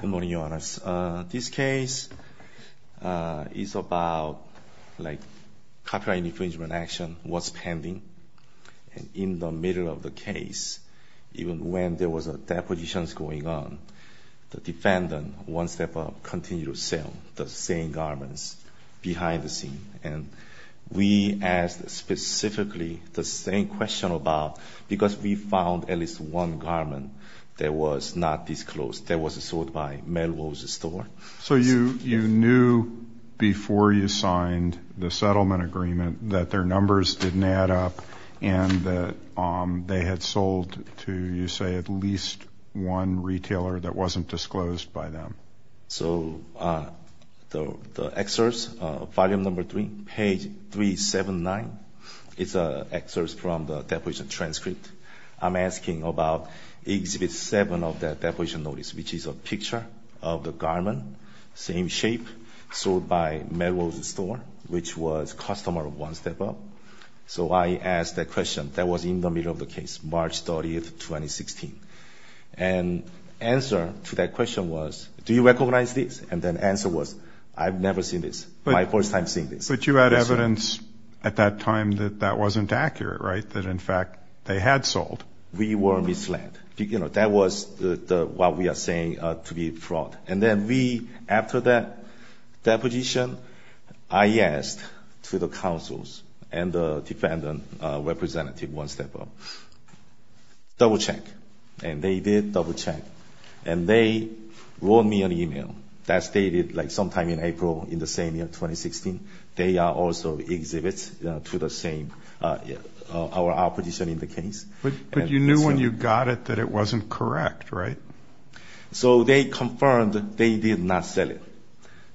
Good morning, Your Honors. This case is about copyright infringement action, what's pending. And in the middle of the case, even when there was depositions going on, the defendant, One Step Up, continued to sell the same garments behind the scenes. And we asked specifically the same question about, because we found at least one garment that was not disclosed, that was sold by Melrose Store. So you knew before you signed the settlement agreement that their numbers didn't add up and that they had sold to, you say, at least one retailer that wasn't disclosed by them? So the excerpt, Volume No. 3, page 379, is an excerpt from the deposition transcript. I'm asking about Exhibit 7 of that deposition notice, which is a picture of the garment, same shape, sold by Melrose Store, which was customer of One Step Up. So I asked that question that was in the middle of the case, March 30th, 2016. And answer to that question was, do you recognize this? And then answer was, I've never seen this, my first time seeing this. But you had evidence at that time that that wasn't accurate, right, that in fact they had sold? We were misled. You know, that was what we are saying to be fraud. And then we, after that deposition, I asked to the counsels and the defendant representative One Step Up, double check. And they did double check. And they wrote me an e-mail that stated, like, sometime in April in the same year, 2016, they are also exhibits to the same, our opposition in the case. But you knew when you got it that it wasn't correct, right? So they confirmed they did not sell it.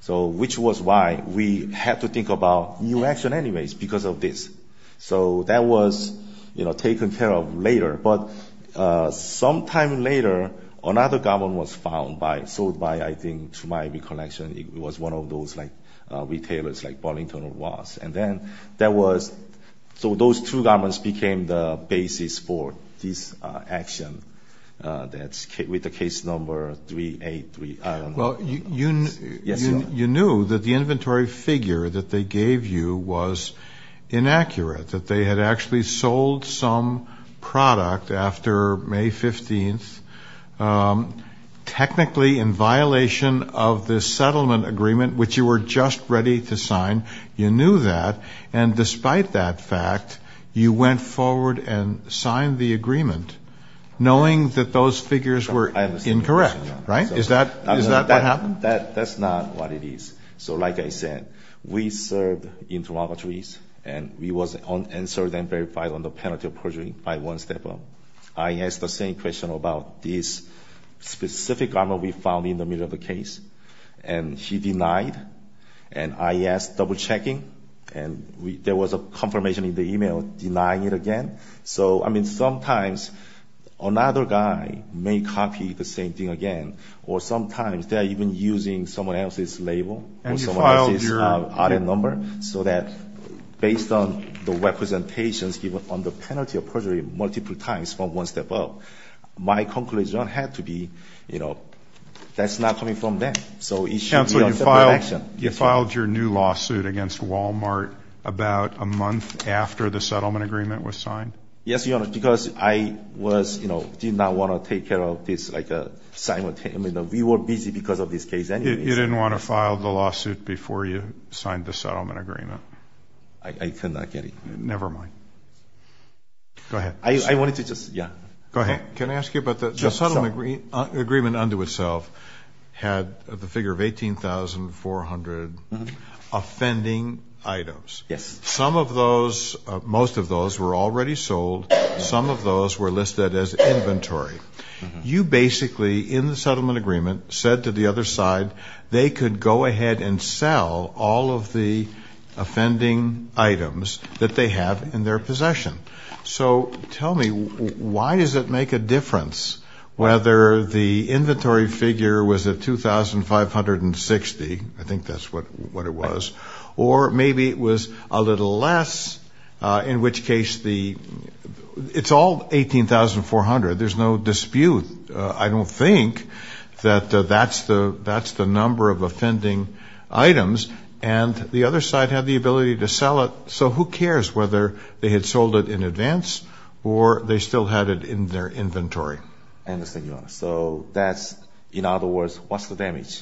So which was why we had to think about new action anyways, because of this. So that was, you know, taken care of later. But sometime later, another garment was found by, sold by, I think, to my recollection, it was one of those, like, retailers, like Burlington was. And then that was, so those two garments became the basis for this action with the case number 383. Well, you knew that the inventory figure that they gave you was inaccurate, that they had actually sold some product after May 15th, technically in violation of the settlement agreement, which you were just ready to sign. You knew that. And despite that fact, you went forward and signed the agreement knowing that those figures were incorrect, right? Is that what happened? That's not what it is. So like I said, we served interrogatories. And we were answered and verified on the penalty of perjury by one step-up. I asked the same question about this specific garment we found in the middle of the case. And he denied. And I asked double-checking. And there was a confirmation in the e-mail denying it again. So, I mean, sometimes another guy may copy the same thing again. Or sometimes they are even using someone else's label or someone else's audit number. So that based on the representations given on the penalty of perjury multiple times from one step-up, my conclusion had to be, you know, that's not coming from them. So it should be a separate action. Counsel, you filed your new lawsuit against Walmart about a month after the settlement agreement was signed? Yes, Your Honor, because I was, you know, did not want to take care of this like simultaneously. We were busy because of this case. You didn't want to file the lawsuit before you signed the settlement agreement? I cannot get it. Never mind. Go ahead. I wanted to just, yeah. Go ahead. The settlement agreement unto itself had the figure of 18,400 offending items. Yes. Some of those, most of those were already sold. Some of those were listed as inventory. You basically, in the settlement agreement, said to the other side they could go ahead and sell all of the offending items that they have in their possession. So tell me, why does it make a difference whether the inventory figure was at 2,560, I think that's what it was, or maybe it was a little less, in which case it's all 18,400. There's no dispute, I don't think, that that's the number of offending items. And the other side had the ability to sell it, so who cares whether they had sold it in advance or they still had it in their inventory. So that's, in other words, what's the damage?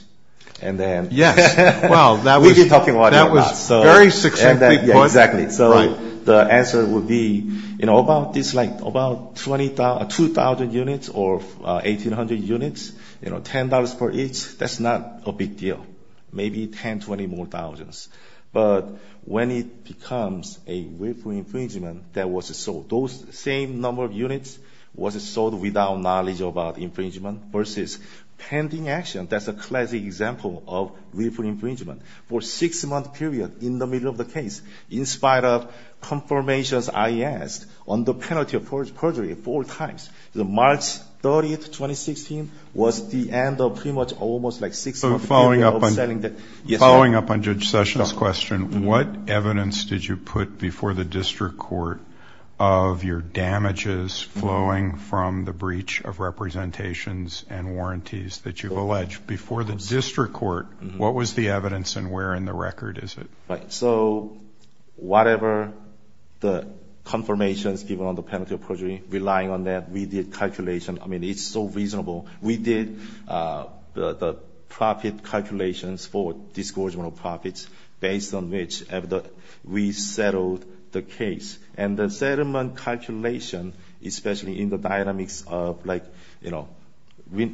Yes. Well, that was very successful. Exactly. So the answer would be, you know, about this like, about 2,000 units or 1,800 units, you know, $10 for each, that's not a big deal. Maybe 10, 20 more thousands. But when it becomes a willful infringement that was sold, those same number of units was sold without knowledge about infringement versus pending action. That's a classic example of willful infringement. For a six-month period in the middle of the case, in spite of confirmations I asked on the penalty of perjury four times, March 30, 2016, was the end of pretty much almost like six months. So following up on Judge Sessions' question, what evidence did you put before the district court of your damages flowing from the breach of representations and warranties that you've alleged? Before the district court, what was the evidence and where in the record is it? Right. So whatever the confirmations given on the penalty of perjury, relying on that, we did calculation. I mean, it's so reasonable. We did the profit calculations for disgorgement of profits based on which we settled the case. And the settlement calculation, especially in the dynamics of, like, you know,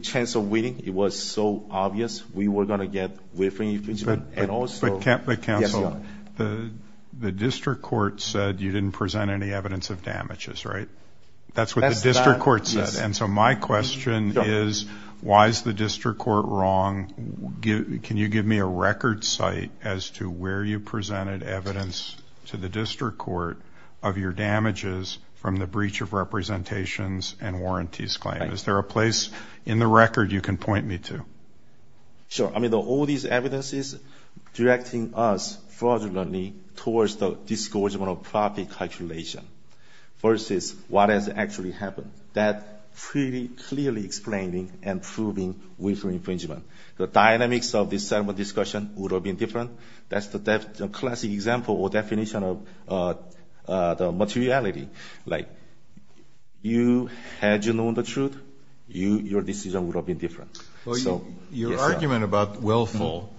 chance of winning, it was so obvious we were going to get willful infringement. But counsel, the district court said you didn't present any evidence of damages, right? That's what the district court said. And so my question is, why is the district court wrong? Can you give me a record site as to where you presented evidence to the district court of your damages from the breach of representations and warranties claim? Is there a place in the record you can point me to? Sure. I mean, all these evidence is directing us fraudulently towards the disgorgement of profit calculation versus what has actually happened. That pretty clearly explaining and proving willful infringement. The dynamics of the settlement discussion would have been different. That's the classic example or definition of the materiality. Like, you had you known the truth, your decision would have been different. Your argument about willful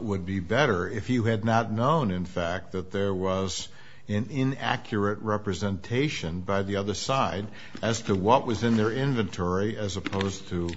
would be better if you had not known, in fact, that there was an inaccurate representation by the other side as to what was in their inventory as opposed to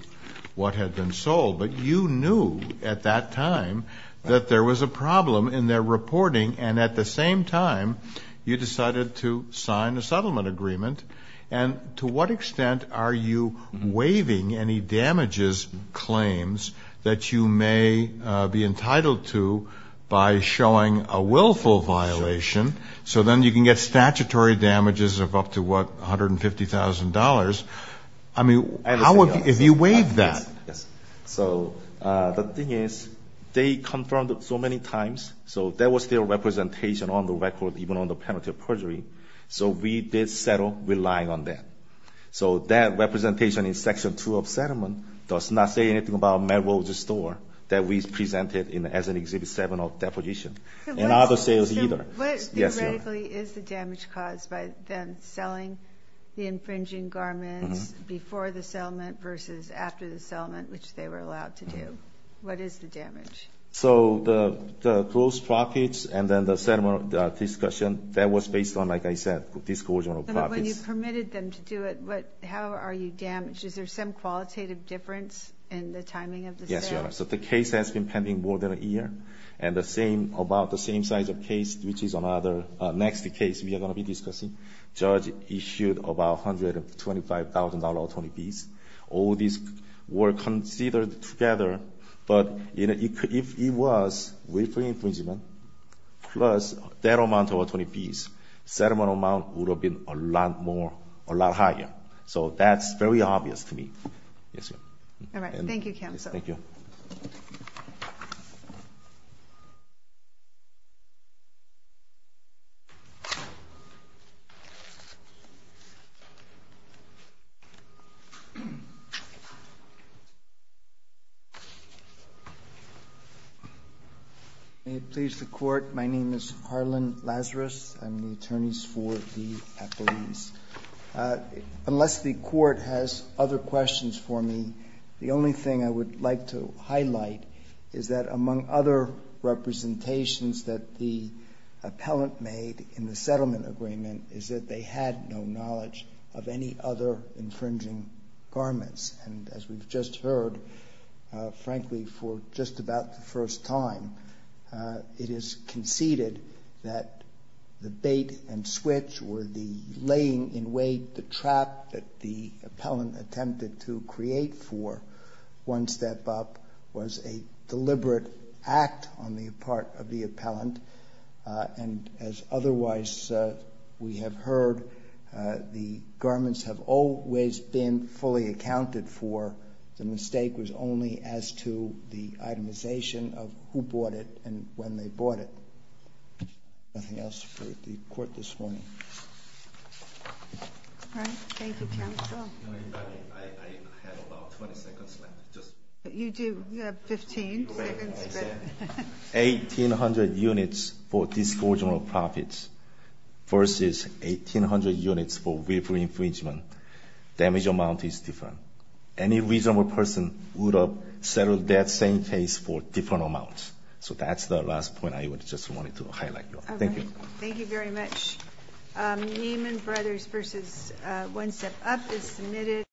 what had been sold. But you knew at that time that there was a problem in their reporting. And at the same time, you decided to sign a settlement agreement. And to what extent are you waiving any damages claims that you may be entitled to by showing a willful violation? So then you can get statutory damages of up to, what, $150,000? I mean, how have you waived that? Yes. So the thing is they confirmed so many times. So there was still representation on the record even on the penalty of perjury. So we did settle relying on that. So that representation in Section 2 of settlement does not say anything about Melrose Store that we presented as an Exhibit 7 of deposition and other sales either. So what theoretically is the damage caused by them selling the infringing garments before the settlement versus after the settlement, which they were allowed to do? What is the damage? So the gross profits and then the settlement discussion, that was based on, like I said, a disclosure of profits. But when you permitted them to do it, how are you damaged? Is there some qualitative difference in the timing of the sale? Yes, Your Honor. So the case has been pending more than a year. And the same, about the same size of case, which is another next case we are going to be discussing, judge issued about $125,000 attorney fees. All these were considered together. But if it was wafer infringement plus that amount of attorney fees, settlement amount would have been a lot more, a lot higher. So that's very obvious to me. Yes, Your Honor. All right. Thank you, Counselor. Thank you. May it please the Court. My name is Harlan Lazarus. I'm the attorneys for the appellees. Unless the Court has other questions for me, the only thing I would like to highlight is that, among other representations that the appellant made in the settlement agreement, is that they had no knowledge of any other infringing garments. And as we've just heard, frankly, for just about the first time, it is conceded that the bait and switch or the laying in wait, the trap that the appellant attempted to create for One Step Up was a deliberate act on the part of the appellant. And as otherwise we have heard, the garments have always been fully accounted for. The mistake was only as to the itemization of who bought it and when they bought it. Nothing else for the Court this morning. All right. Thank you, Counselor. I have about 20 seconds left. You do. You have 15 seconds. 1,800 units for disgorgement of profits versus 1,800 units for willful infringement. Damage amount is different. Any reasonable person would have settled that same case for different amounts. So that's the last point I just wanted to highlight. Thank you. Thank you very much. Neiman Brothers v. One Step Up is submitted.